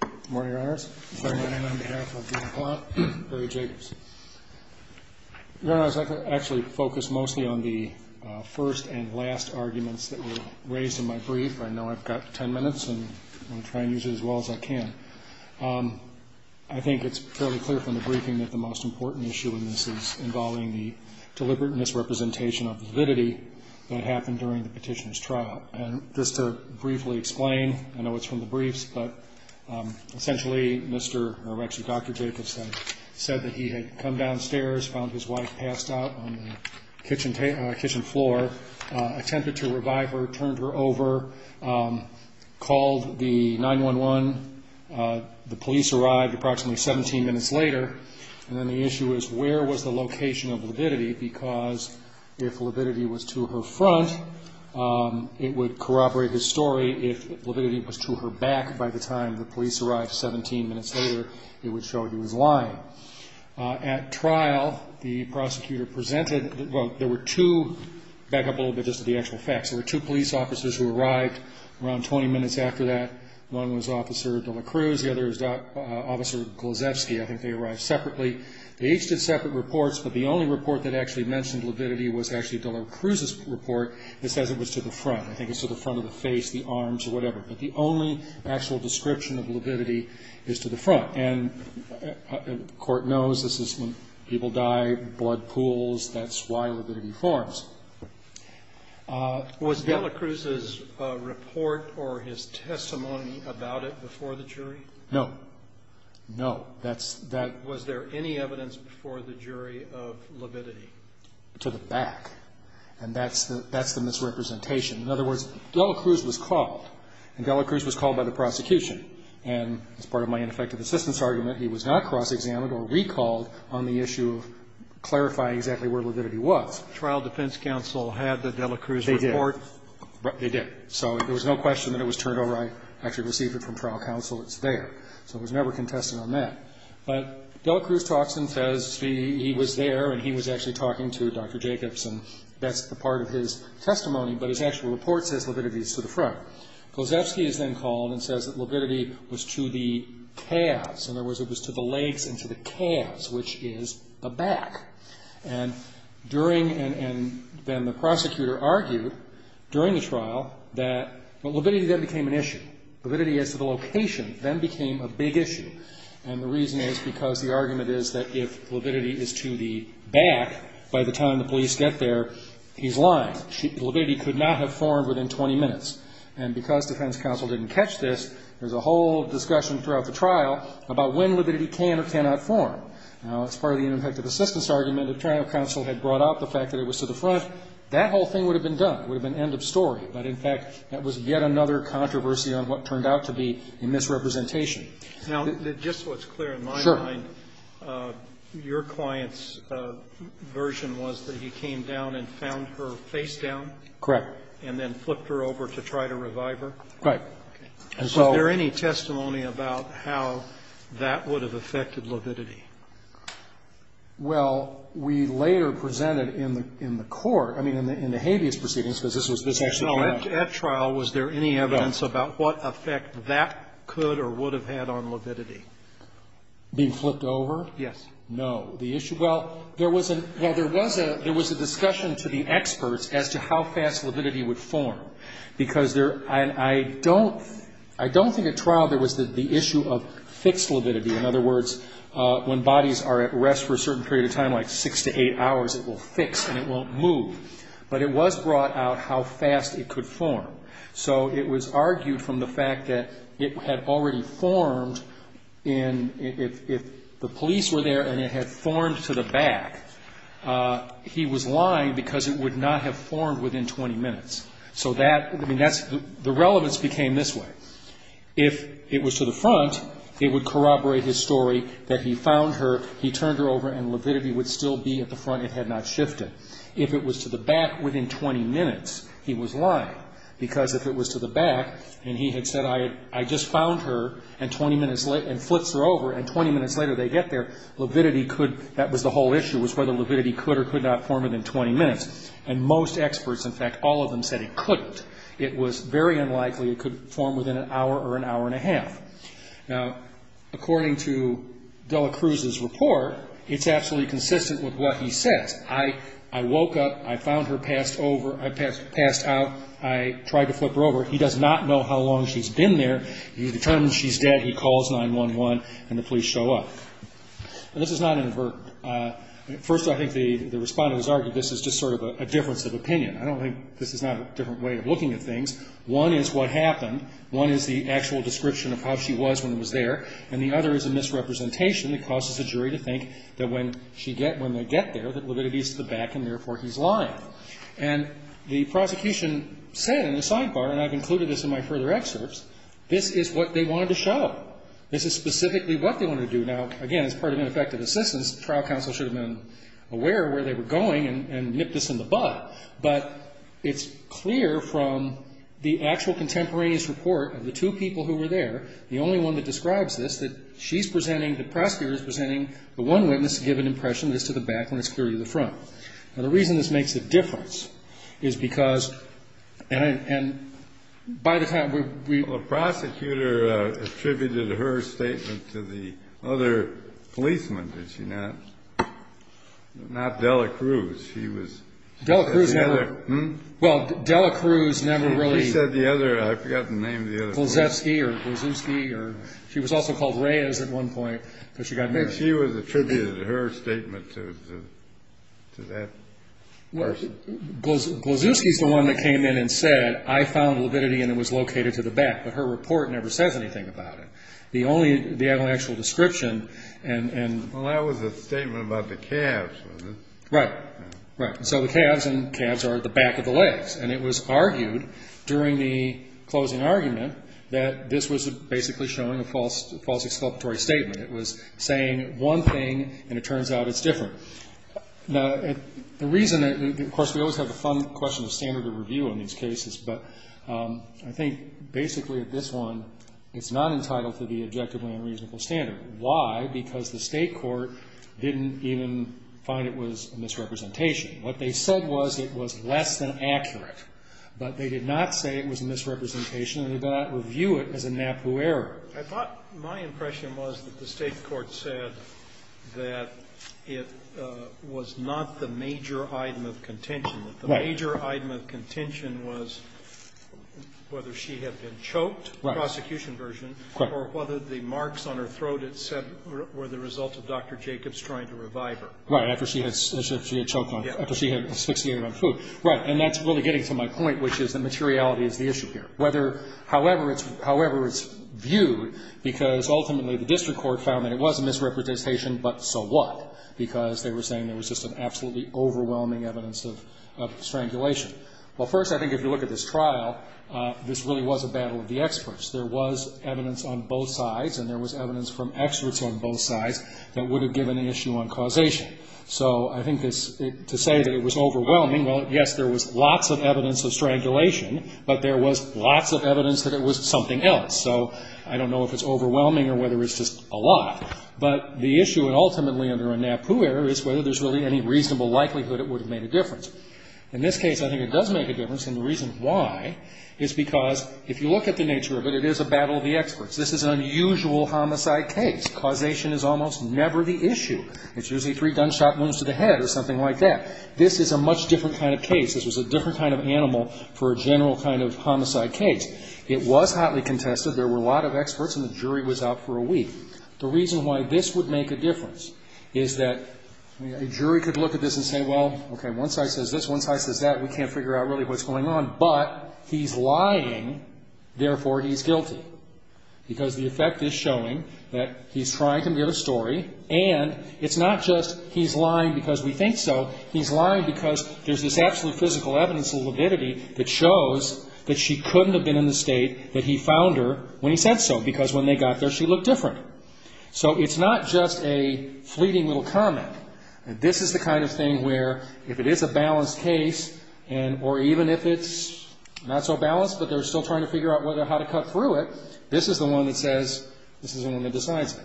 Good morning, Your Honors. It's my honor and on behalf of Dean McClough and Barry Jacobs. Your Honors, I'd like to actually focus mostly on the first and last arguments that were raised in my brief. I know I've got ten minutes and I'm going to try and use it as well as I can. I think it's fairly clear from the briefing that the most important issue in this is involving the deliberate misrepresentation of the divinity that happened during the petitioner's trial. And just to briefly explain, I know it's from the briefs, but essentially, Dr. Jacobs said that he had come downstairs, found his wife passed out on the kitchen floor, attempted to revive her, turned her over, called the 9-1-1. The police arrived approximately 17 minutes later. And then the issue is where was the location of Libidity because if Libidity was to her front, it would corroborate his story. If Libidity was to her back by the time the police arrived 17 minutes later, it would show he was lying. At trial, the prosecutor presented, well, there were two, back up a little bit just to the actual facts, there were two police officers who arrived around 20 minutes after that. One was Officer De La Cruz, the other was Officer Gluszewski. I think they arrived separately. They each did separate reports, but the only report that actually mentioned Libidity was actually De La Cruz's report that says it was to the front. I think it's to the front of the face, the arms, or whatever. But the only actual description of Libidity is to the front. And the court knows this is when people die, blood pools, that's why Libidity forms. Was De La Cruz's report or his testimony about it before the jury? No. No. That's, that Was there any evidence before the jury of Libidity? to the back. And that's the, that's the misrepresentation. In other words, De La Cruz was called. And De La Cruz was called by the prosecution. And as part of my ineffective assistance argument, he was not cross-examined or recalled on the issue of clarifying exactly where Libidity was. Trial defense counsel had the De La Cruz report? They did. They did. So there was no question that it was turned over. I actually received it from trial counsel. It's there. So it was never contested on that. But De La Cruz talks and says he was there, and he was actually talking to Dr. Jacobs, and that's the part of his testimony. But his actual report says Libidity is to the front. Gosefsky is then called and says that Libidity was to the calves. In other words, it was to the legs and to the calves, which is the back. And during, and then the prosecutor argued during the trial that, well, Libidity then became an issue. And the reason is because the argument is that if Libidity is to the back, by the time the police get there, he's lying. Libidity could not have formed within 20 minutes. And because defense counsel didn't catch this, there's a whole discussion throughout the trial about when Libidity can or cannot form. Now, as part of the ineffective assistance argument, if trial counsel had brought up the fact that it was to the front, that whole thing would have been done. It would have been end of story. But, in fact, that was yet another controversy on what turned out to be a misrepresentation. Now, just so it's clear in my mind, your client's version was that he came down and found her face down? Correct. And then flipped her over to try to revive her? Correct. Is there any testimony about how that would have affected Libidity? Well, we later presented in the court, I mean, in the habeas proceedings, because this was actually a trial. At trial, was there any evidence about what effect that could or would have had on Libidity? Being flipped over? Yes. No. The issue? Well, there was a discussion to the experts as to how fast Libidity would form. Because I don't think at trial there was the issue of fixed Libidity. In other words, when bodies are at rest for a certain period of time, like six to eight hours, it will fix and it won't move. But it was brought out how fast it could form. So it was argued from the fact that it had already formed if the police were there and it had formed to the back. He was lying because it would not have formed within 20 minutes. So that, I mean, the relevance became this way. If it was to the front, it would corroborate his story that he found her, he turned her over, and Libidity would still be at the front. It had not shifted. If it was to the back, within 20 minutes, he was lying. Because if it was to the back and he had said, I just found her, and 20 minutes later, and flips her over, and 20 minutes later they get there, Libidity could, that was the whole issue, was whether Libidity could or could not form within 20 minutes. And most experts, in fact, all of them said it couldn't. It was very unlikely it could form within an hour or an hour and a half. Now, according to Dela Cruz's report, it's absolutely consistent with what he says. I woke up, I found her passed out, I tried to flip her over. He does not know how long she's been there. He determines she's dead, he calls 911, and the police show up. This is not inadvertent. First, I think the Respondent has argued this is just sort of a difference of opinion. I don't think this is not a different way of looking at things. One is what happened. One is the actual description of how she was when he was there. And the other is a misrepresentation that causes the jury to think that when she gets, when they get there, that Libidity is to the back, and therefore he's lying. And the prosecution said in the sidebar, and I've included this in my further excerpts, this is what they wanted to show. This is specifically what they wanted to do. Now, again, as part of ineffective assistance, the trial counsel should have been aware of where they were going and nipped this in the butt. But it's clear from the actual contemporaneous report of the two people who were there, the only one that describes this, that she's presenting, the prosecutor is presenting, the one witness to give an impression that it's to the back when it's clearly to the front. Now, the reason this makes a difference is because, and by the time we… The prosecutor attributed her statement to the other policeman, did she not? Not Dela Cruz. She was… Dela Cruz never… Hmm? Well, Dela Cruz never really… She said the other, I've forgotten the name of the other person. Glazewski or Glazewski, or she was also called Reyes at one point because she got married. She was attributed her statement to that person. Glazewski's the one that came in and said, I found lividity and it was located to the back. But her report never says anything about it. The only, the actual description and… Well, that was a statement about the calves, wasn't it? Right. Right. So the calves and calves are at the back of the legs. And it was argued during the closing argument that this was basically showing a false exculpatory statement. It was saying one thing and it turns out it's different. Now, the reason, of course, we always have the fun question of standard of review in these cases. But I think basically at this one, it's not entitled to be objectively unreasonable standard. Why? Because the state court didn't even find it was a misrepresentation. What they said was it was less than accurate. But they did not say it was a misrepresentation and did not review it as a NAPU error. I thought my impression was that the state court said that it was not the major item of contention. Right. That the major item of contention was whether she had been choked. Right. The prosecution version. Correct. Or whether the marks on her throat it said were the result of Dr. Jacobs trying to revive her. Right. After she had choked on, after she had asphyxiated on food. Right. And that's really getting to my point, which is that materiality is the issue here. Whether, however it's viewed, because ultimately the district court found that it was a misrepresentation, but so what? Because they were saying there was just an absolutely overwhelming evidence of strangulation. Well, first, I think if you look at this trial, this really was a battle of the experts. There was evidence on both sides and there was evidence from experts on both sides that would have given the issue uncausation. So I think this, to say that it was overwhelming, well, yes, there was lots of evidence of strangulation. But there was lots of evidence that it was something else. So I don't know if it's overwhelming or whether it's just a lot. But the issue ultimately under a NAPU error is whether there's really any reasonable likelihood it would have made a difference. In this case, I think it does make a difference. And the reason why is because if you look at the nature of it, it is a battle of the experts. This is an unusual homicide case. Causation is almost never the issue. It's usually three gunshot wounds to the head or something like that. This is a much different kind of case. This was a different kind of animal for a general kind of homicide case. It was hotly contested. There were a lot of experts and the jury was out for a week. The reason why this would make a difference is that a jury could look at this and say, well, okay, one side says this, one side says that. We can't figure out really what's going on. But he's lying. Therefore, he's guilty. Because the effect is showing that he's trying to give a story. And it's not just he's lying because we think so. He's lying because there's this absolute physical evidence of lividity that shows that she couldn't have been in the state that he found her when he said so. Because when they got there, she looked different. So it's not just a fleeting little comment. This is the kind of thing where if it is a balanced case or even if it's not so balanced but they're still trying to figure out how to cut through it, this is the one that says, this is the one that decides it.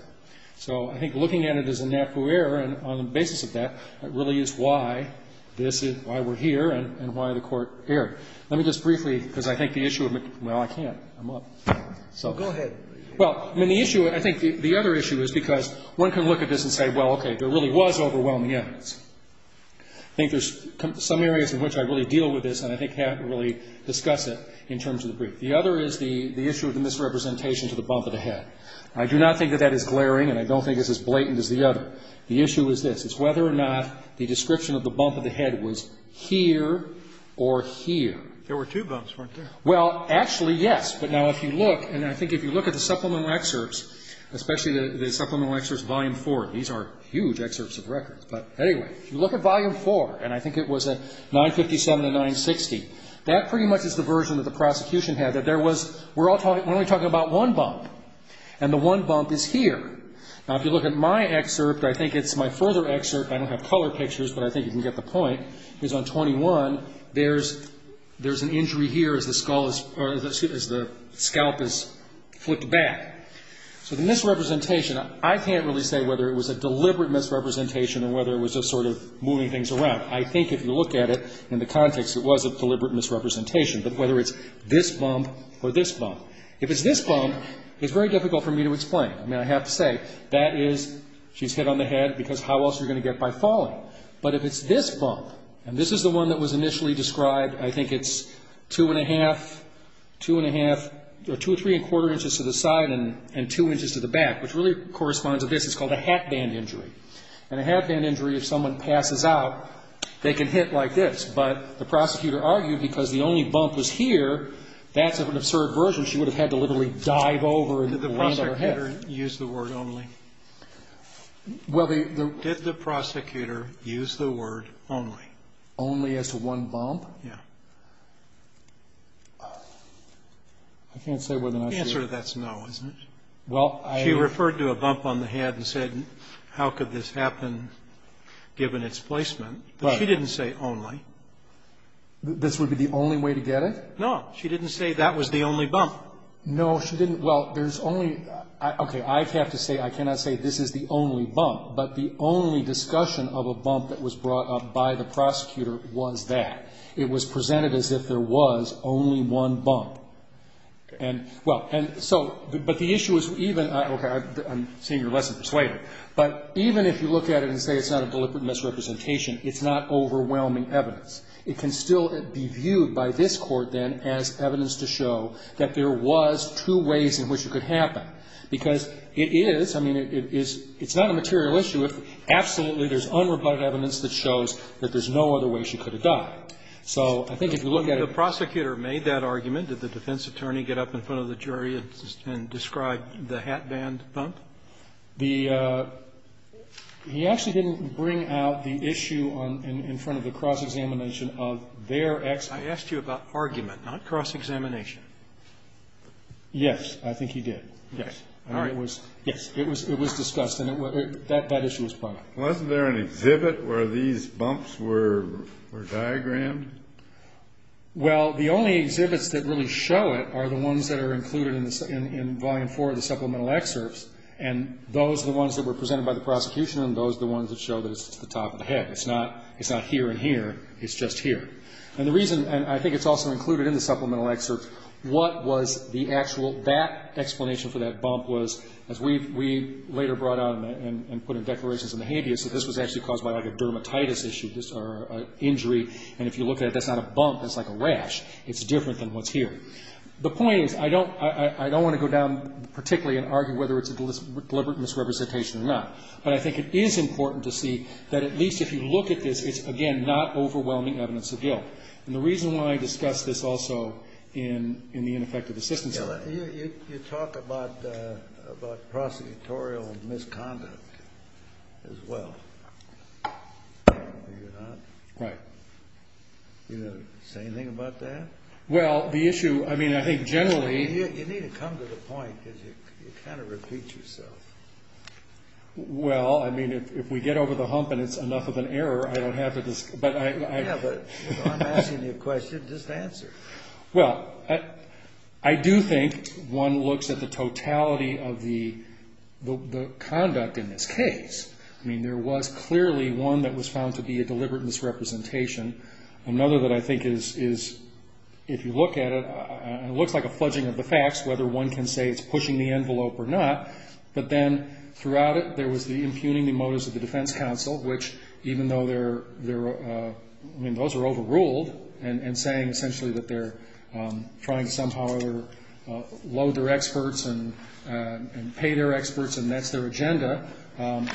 So I think looking at it as a NAFU error and on the basis of that, it really is why this is why we're here and why the court erred. Let me just briefly, because I think the issue of it, well, I can't. I'm up. So go ahead. Well, I mean, the issue, I think the other issue is because one can look at this and say, well, okay, there really was overwhelming evidence. I think there's some areas in which I really deal with this and I think have to really discuss it in terms of the brief. The other is the issue of the misrepresentation to the bump of the head. I do not think that that is glaring and I don't think it's as blatant as the other. The issue is this. It's whether or not the description of the bump of the head was here or here. There were two bumps, weren't there? Well, actually, yes. But now if you look, and I think if you look at the supplemental excerpts, especially the supplemental excerpts volume four, these are huge excerpts of records. But anyway, if you look at volume four, and I think it was at 957 to 960, that pretty much is the version that the prosecution had, that there was, we're only talking about one bump, and the one bump is here. Now, if you look at my excerpt, I think it's my further excerpt, I don't have color pictures, but I think you can get the point, is on 21, there's an injury here as the scalp is flipped back. So the misrepresentation, I can't really say whether it was a deliberate misrepresentation or whether it was just sort of moving things around. I think if you look at it in the context, it was a deliberate misrepresentation, but whether it's this bump or this bump. If it's this bump, it's very difficult for me to explain. I mean, I have to say that is, she's hit on the head because how else are you going to get by falling? But if it's this bump, and this is the one that was initially described, I think it's two and a half, two and a half, or two, three and a quarter inches to the side and two inches to the back, which really corresponds to this, it's called a hatband injury. And a hatband injury, if someone passes out, they can hit like this. But the prosecutor argued because the only bump was here, that's an absurd version. She would have had to literally dive over and land on her head. Did the prosecutor use the word only? Did the prosecutor use the word only? Only as to one bump? Yeah. I can't say whether or not she... The answer to that is no, isn't it? Well, I... She referred to a bump on the head and said how could this happen given its placement. But she didn't say only. This would be the only way to get it? No. She didn't say that was the only bump. No, she didn't. Well, there's only, okay, I have to say, I cannot say this is the only bump. But the only discussion of a bump that was brought up by the prosecutor was that. It was presented as if there was only one bump. And, well, and so, but the issue is even, okay, I'm seeing your lesson persuaded. But even if you look at it and say it's not a deliberate misrepresentation, it's not overwhelming evidence. It can still be viewed by this Court then as evidence to show that there was two ways in which it could happen. Because it is, I mean, it's not a material issue if absolutely there's unrebutted evidence that shows that there's no other way she could have died. So I think if you look at it... The prosecutor made that argument. Did the defense attorney get up in front of the jury and describe the hat band bump? He actually didn't bring out the issue in front of the cross-examination of their experts. I asked you about argument, not cross-examination. Yes, I think he did. Yes. All right. Yes, it was discussed, and that issue was brought up. Wasn't there an exhibit where these bumps were diagrammed? Well, the only exhibits that really show it are the ones that are included in Volume 4 of the supplemental excerpts. And those are the ones that were presented by the prosecution, and those are the ones that show that it's at the top of the head. It's not here and here. It's just here. And the reason, and I think it's also included in the supplemental excerpts, what was the actual, that explanation for that bump was, as we later brought out and put in declarations in the habeas, that this was actually caused by a dermatitis issue or injury. And if you look at it, that's not a bump. That's like a rash. It's different than what's here. The point is, I don't want to go down particularly and argue whether it's a deliberate misrepresentation or not. But I think it is important to see that at least if you look at this, it's, again, not overwhelming evidence of guilt. And the reason why I discuss this also in the ineffective assistance. You talk about prosecutorial misconduct as well. Do you not? Right. Do you want to say anything about that? Well, the issue, I mean, I think generally. You need to come to the point because you kind of repeat yourself. Well, I mean, if we get over the hump and it's enough of an error, I don't have to. Yeah, but I'm asking you a question. Just answer it. Well, I do think one looks at the totality of the conduct in this case. I mean, there was clearly one that was found to be a deliberate misrepresentation. Another that I think is, if you look at it, it looks like a fludging of the facts, whether one can say it's pushing the envelope or not. But then throughout it, there was the impugning the motives of the defense counsel, which even though they're, I mean, those are overruled and saying essentially that they're trying to somehow load their experts and pay their experts and that's their agenda.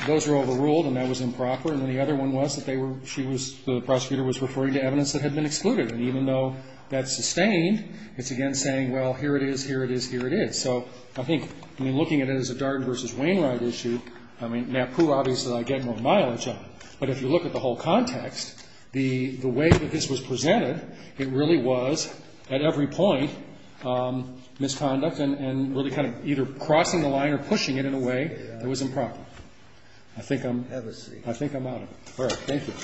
Those were overruled and that was improper. And then the other one was that they were, she was, the prosecutor was referring to evidence that had been excluded. And even though that's sustained, it's again saying, well, here it is, here it is, here it is. So I think, I mean, looking at it as a Darden v. Wainwright issue, I mean, NAPU obviously I get more mileage on. But if you look at the whole context, the way that this was presented, it really was at every point misconduct and really kind of either crossing the line or pushing it in a way that was improper. I think I'm out of it. Ms. Jacobson.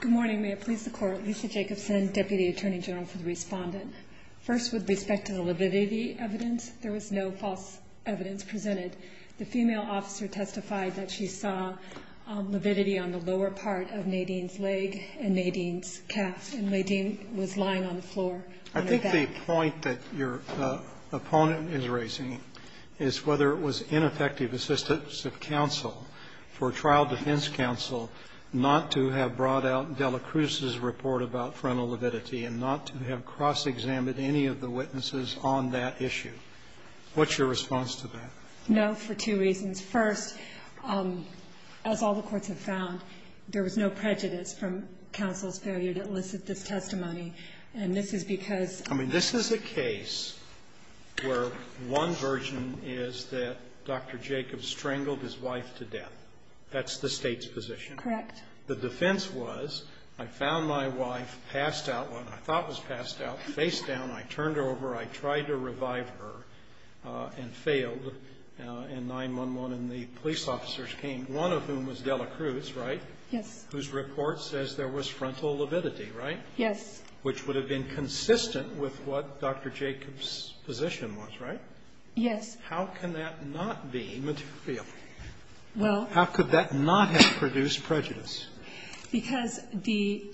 Good morning. May it please the Court. Lisa Jacobson, Deputy Attorney General for the Respondent. First, with respect to the lividity evidence, there was no false evidence presented. The female officer testified that she saw lividity on the lower part of Nadine's leg and Nadine's calf, and Nadine was lying on the floor on her back. I think the point that your opponent is raising is whether it was ineffective assistance of counsel for trial defense counsel not to have brought out Delacruz's report about frontal lividity and not to have cross-examined any of the witnesses on that issue. What's your response to that? No, for two reasons. First, as all the courts have found, there was no prejudice from counsel's failure to elicit this testimony. And this is because of the law. I mean, this is a case where one version is that Dr. Jacobs strangled his wife to death. That's the State's position. Correct. The defense was I found my wife passed out, what I thought was passed out, face down. I turned her over. I tried to revive her and failed. And 911 and the police officers came, one of whom was Delacruz, right? Yes. Whose report says there was frontal lividity, right? Yes. Which would have been consistent with what Dr. Jacobs' position was, right? Yes. How can that not be material? Well How could that not have produced prejudice? Because the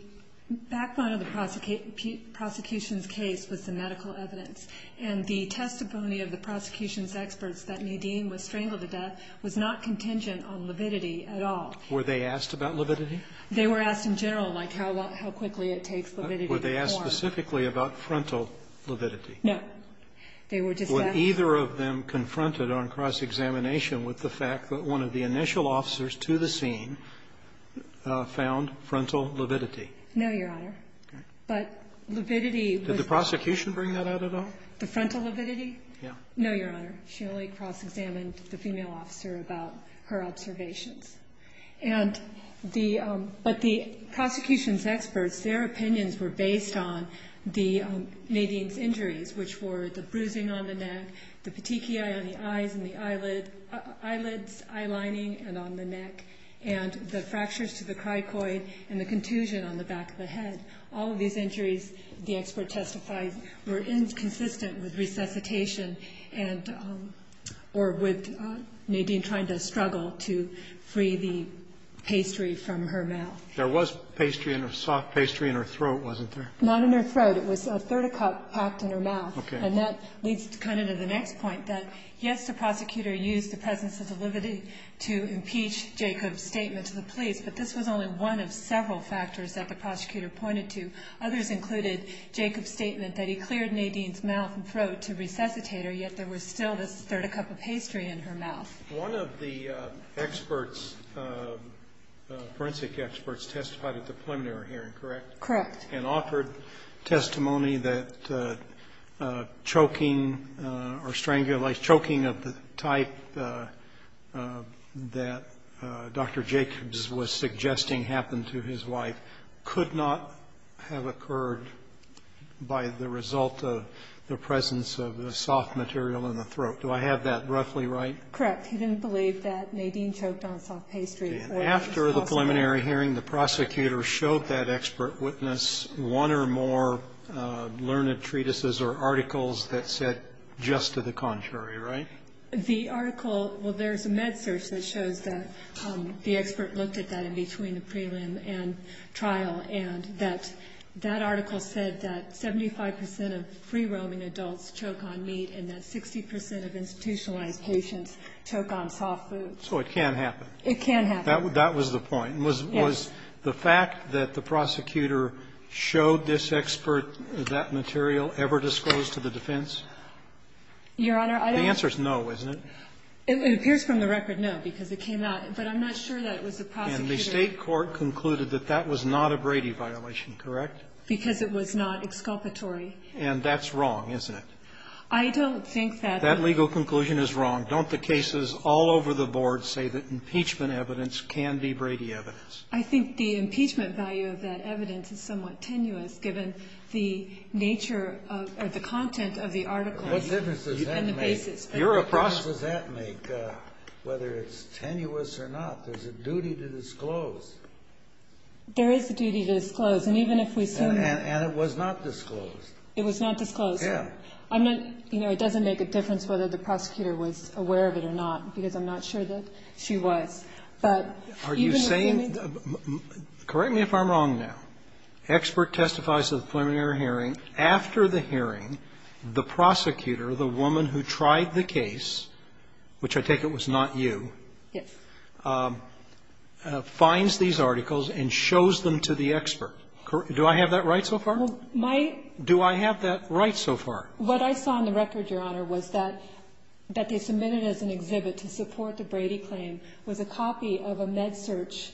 backbone of the prosecution's case was the medical evidence. And the testimony of the prosecution's experts that Nadine was strangled to death was not contingent on lividity at all. Were they asked about lividity? They were asked in general, like how quickly it takes lividity to form. Were they asked specifically about frontal lividity? No. They were just asked. Were either of them confronted on cross-examination with the fact that one of the initial officers to the scene found frontal lividity? No, Your Honor. Okay. But lividity was not. Did the prosecution bring that out at all? The frontal lividity? Yes. No, Your Honor. She only cross-examined the female officer about her observations. And the But the prosecution's experts, their opinions were based on the Nadine's injuries, which were the bruising on the neck, the petechiae on the eyes and the on the neck, and the fractures to the cricoid and the contusion on the back of the head. All of these injuries, the expert testifies, were inconsistent with resuscitation and or with Nadine trying to struggle to free the pastry from her mouth. There was pastry in her soft pastry in her throat, wasn't there? Not in her throat. It was a third-a-cup packed in her mouth. Okay. And that leads kind of to the next point, that, yes, the prosecutor used the presence of the lividity to impeach Jacob's statement to the police. But this was only one of several factors that the prosecutor pointed to. Others included Jacob's statement that he cleared Nadine's mouth and throat to resuscitate her, yet there was still this third-a-cup of pastry in her mouth. One of the experts, forensic experts, testified at the preliminary hearing, correct? Correct. And offered testimony that choking or strangulation, choking of the type that Dr. Jacobs was suggesting happened to his wife could not have occurred by the result of the presence of the soft material in the throat. Do I have that roughly right? Correct. He didn't believe that Nadine choked on soft pastry. Okay. After the preliminary hearing, the prosecutor showed that expert witness one or more learned treatises or articles that said just to the contrary, right? The article, well, there's a med search that shows that the expert looked at that in between the prelim and trial, and that that article said that 75 percent of free-roaming adults choke on meat and that 60 percent of institutionalized patients choke on soft So it can happen. It can happen. That was the point. Yes. Was the fact that the prosecutor showed this expert that material ever disclosed to the defense? Your Honor, I don't. The answer is no, isn't it? It appears from the record, no, because it came out. But I'm not sure that it was the prosecutor. And the State court concluded that that was not a Brady violation, correct? Because it was not exculpatory. And that's wrong, isn't it? I don't think that. That legal conclusion is wrong. Don't the cases all over the board say that impeachment evidence can be Brady evidence? I think the impeachment value of that evidence is somewhat tenuous, given the nature of or the content of the article and the basis. What difference does that make? Your approach does that make, whether it's tenuous or not? There's a duty to disclose. There is a duty to disclose. And even if we assume that. And it was not disclosed. It was not disclosed. Yes. But I'm not, you know, it doesn't make a difference whether the prosecutor was aware of it or not, because I'm not sure that she was. But even assuming. Are you saying? Correct me if I'm wrong now. Expert testifies to the preliminary hearing. After the hearing, the prosecutor, the woman who tried the case, which I take it was not you. Yes. Finds these articles and shows them to the expert. Do I have that right so far? Well, my. What I saw in the record, Your Honor, was that they submitted as an exhibit to support the Brady claim was a copy of a MedSearch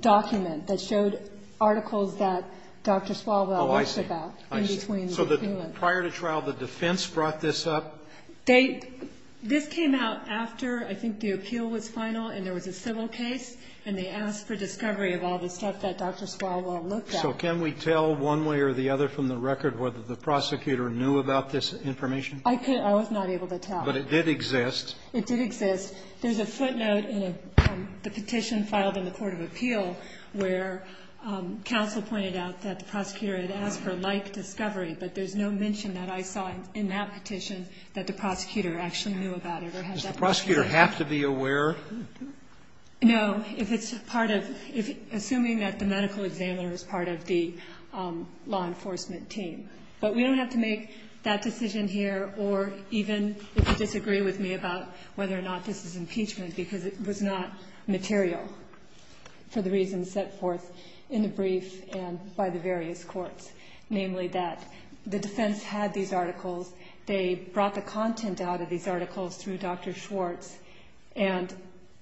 document that showed articles that Dr. Swalwell looked about. Oh, I see. Prior to trial, the defense brought this up? This came out after I think the appeal was final and there was a civil case, and they asked for discovery of all the stuff that Dr. Swalwell looked at. So can we tell one way or the other from the record whether the prosecutor knew about this information? I could. I was not able to tell. But it did exist. It did exist. There's a footnote in the petition filed in the court of appeal where counsel pointed out that the prosecutor had asked for a like discovery, but there's no mention that I saw in that petition that the prosecutor actually knew about it. Does the prosecutor have to be aware? No. If it's part of assuming that the medical examiner is part of the law enforcement team. But we don't have to make that decision here or even if you disagree with me about whether or not this is impeachment, because it was not material for the reasons set forth in the brief and by the various courts, namely that the defense had these articles. They brought the content out of these articles through Dr. Schwartz, and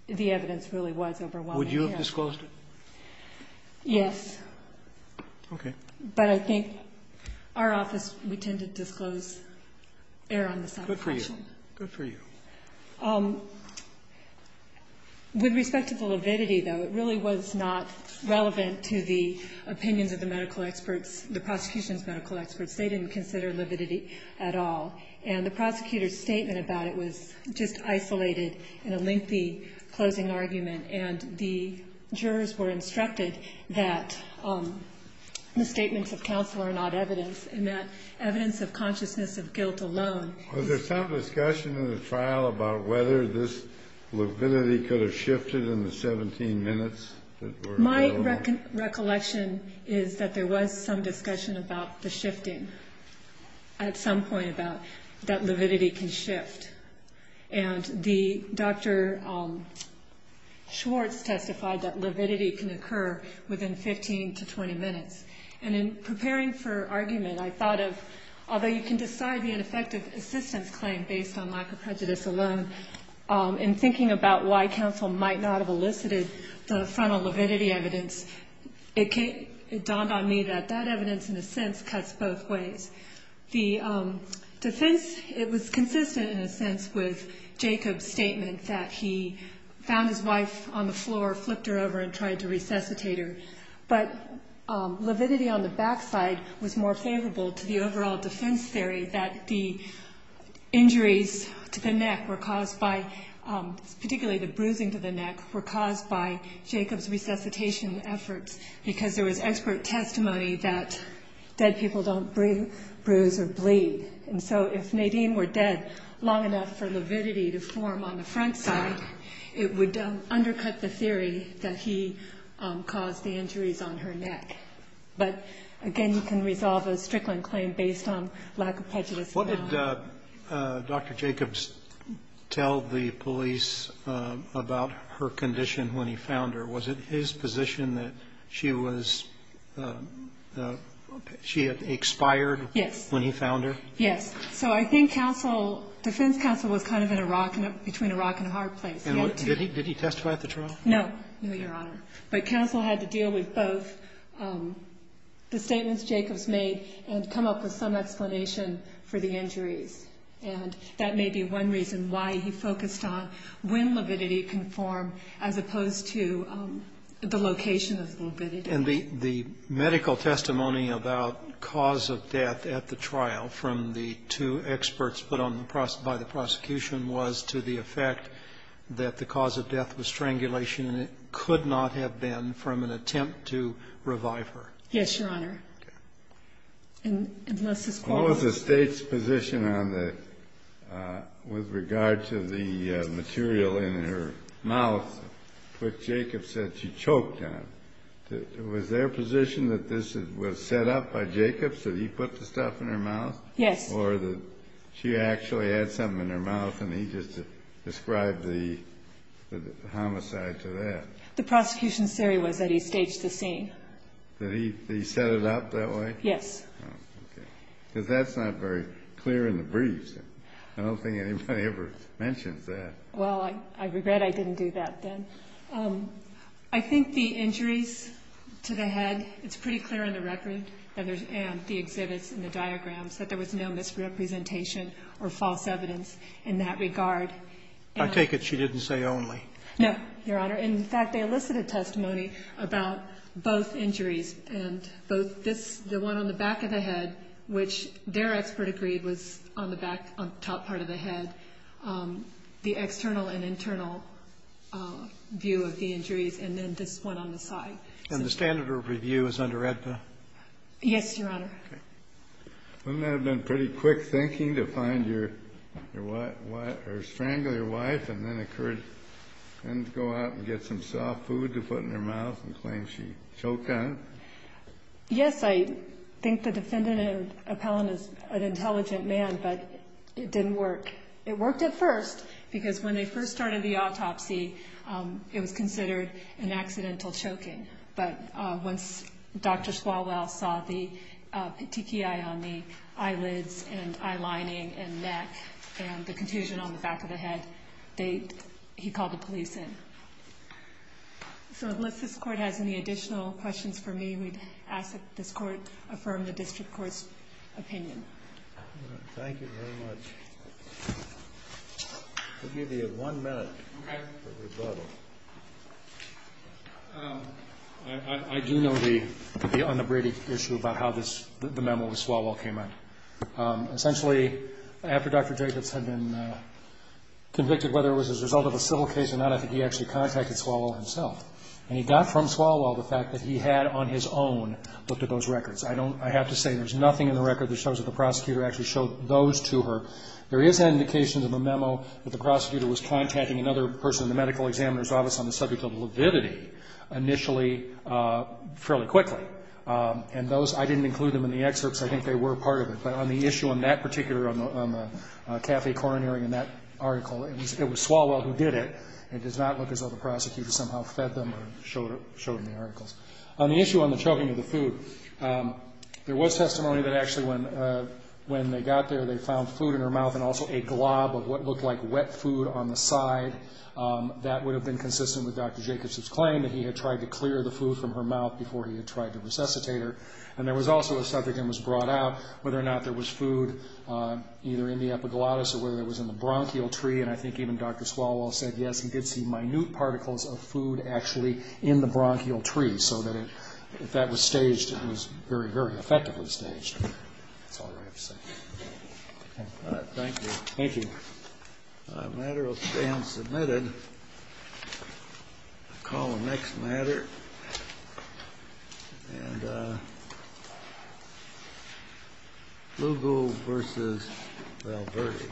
the evidence really was overwhelming. Would you have disclosed it? Yes. Okay. But I think our office, we tend to disclose error on the side of caution. Good for you. Good for you. With respect to the lividity, though, it really was not relevant to the opinions of the medical experts, the prosecution's medical experts. They didn't consider lividity at all. And the prosecutor's statement about it was just isolated in a lengthy closing argument. And the jurors were instructed that the statements of counsel are not evidence in that evidence of consciousness of guilt alone. Was there some discussion in the trial about whether this lividity could have shifted in the 17 minutes that were available? My recollection is that there was some discussion about the shifting at some point about that lividity can shift. And Dr. Schwartz testified that lividity can occur within 15 to 20 minutes. And in preparing for argument, I thought of, although you can decide the ineffective assistance claim based on lack of prejudice alone, in thinking about why counsel might not have elicited the frontal lividity evidence, it dawned on me that that evidence in a sense cuts both ways. The defense, it was consistent in a sense with Jacob's statement that he found his wife on the floor, flipped her over, and tried to resuscitate her. But lividity on the back side was more favorable to the overall defense theory that the injuries to the neck were caused by, particularly the bruising to the neck, were caused by Jacob's resuscitation efforts because there was expert testimony that dead people don't bruise or bleed. And so if Nadine were dead long enough for lividity to form on the front side, it would undercut the theory that he caused the injuries on her neck. But again, you can resolve a Strickland claim based on lack of prejudice alone. What did Dr. Jacobs tell the police about her condition when he found her? Was it his position that she was, she had expired when he found her? Yes. Yes. So I think counsel, defense counsel was kind of in a rock between a rock and a hard place. Did he testify at the trial? No, Your Honor. But counsel had to deal with both the statements Jacobs made and come up with some explanation for the injuries. And that may be one reason why he focused on when lividity can form as opposed to the location of lividity. And the medical testimony about cause of death at the trial from the two experts put on the, by the prosecution was to the effect that the cause of death was strangulation and it could not have been from an attempt to revive her. Yes, Your Honor. Okay. And Mr. Squall. What was the state's position on the, with regard to the material in her mouth which Jacobs said she choked on? Was there a position that this was set up by Jacobs, that he put the stuff in her mouth? Yes. Or that she actually had something in her mouth and he just described the homicide to that? The prosecution's theory was that he staged the scene. That he set it up that way? Yes. Okay. Because that's not very clear in the briefs. I don't think anybody ever mentions that. Well, I regret I didn't do that then. I think the injuries to the head, it's pretty clear in the record and the exhibits and the diagrams that there was no misrepresentation or false evidence in that regard. I take it she didn't say only. No, Your Honor. In fact, they elicited testimony about both injuries and both this, the one on the back of the head, which their expert agreed was on the back, on the top part of the head, the external and internal view of the injuries, and then this one on the side. And the standard of review is under AEDPA? Yes, Your Honor. Okay. Wouldn't that have been pretty quick thinking to find your wife or strangle your wife and then go out and get some soft food to put in her mouth and claim she choked on it? Yes. I think the defendant, Appellant, is an intelligent man, but it didn't work. It worked at first because when they first started the autopsy, it was considered an accidental choking. But once Dr. Swalwell saw the petechiae on the eyelids and eye lining and neck and the contusion on the back of the head, he called the police in. So unless this Court has any additional questions for me, we'd ask that this Court affirm the District Court's opinion. Thank you very much. We'll give you one minute for rebuttal. I do know the unabridged issue about how the memo with Swalwell came out. Essentially, after Dr. Jacobs had been convicted, whether it was as a result of a civil case or not, I think he actually contacted Swalwell himself. And he got from Swalwell the fact that he had on his own looked at those records. I have to say there's nothing in the record that shows that the prosecutor actually showed those to her. There is indications in the memo that the prosecutor was contacting another person in the medical examiner's office on the subject of lividity initially fairly quickly. And those, I didn't include them in the excerpts. I think they were part of it. But on the issue on that particular, on the cafe coronary and that article, it was Swalwell who did it. It does not look as though the prosecutor somehow fed them or showed them the articles. On the issue on the choking of the food, there was testimony that actually when they got there, they found food in her mouth and also a glob of what looked like wet food on the side. That would have been consistent with Dr. Jacobson's claim that he had tried to clear the food from her mouth before he had tried to resuscitate her. And there was also a subject that was brought out, whether or not there was food either in the epiglottis or whether it was in the bronchial tree. And I think even Dr. Swalwell said yes, he did see minute particles of food actually in the bronchial tree so that if that was staged, it was very, very effectively staged. That's all I have to say. Thank you. Thank you. The matter will stand submitted. I'll call the next matter. And Lugo versus Valverde. Thank you.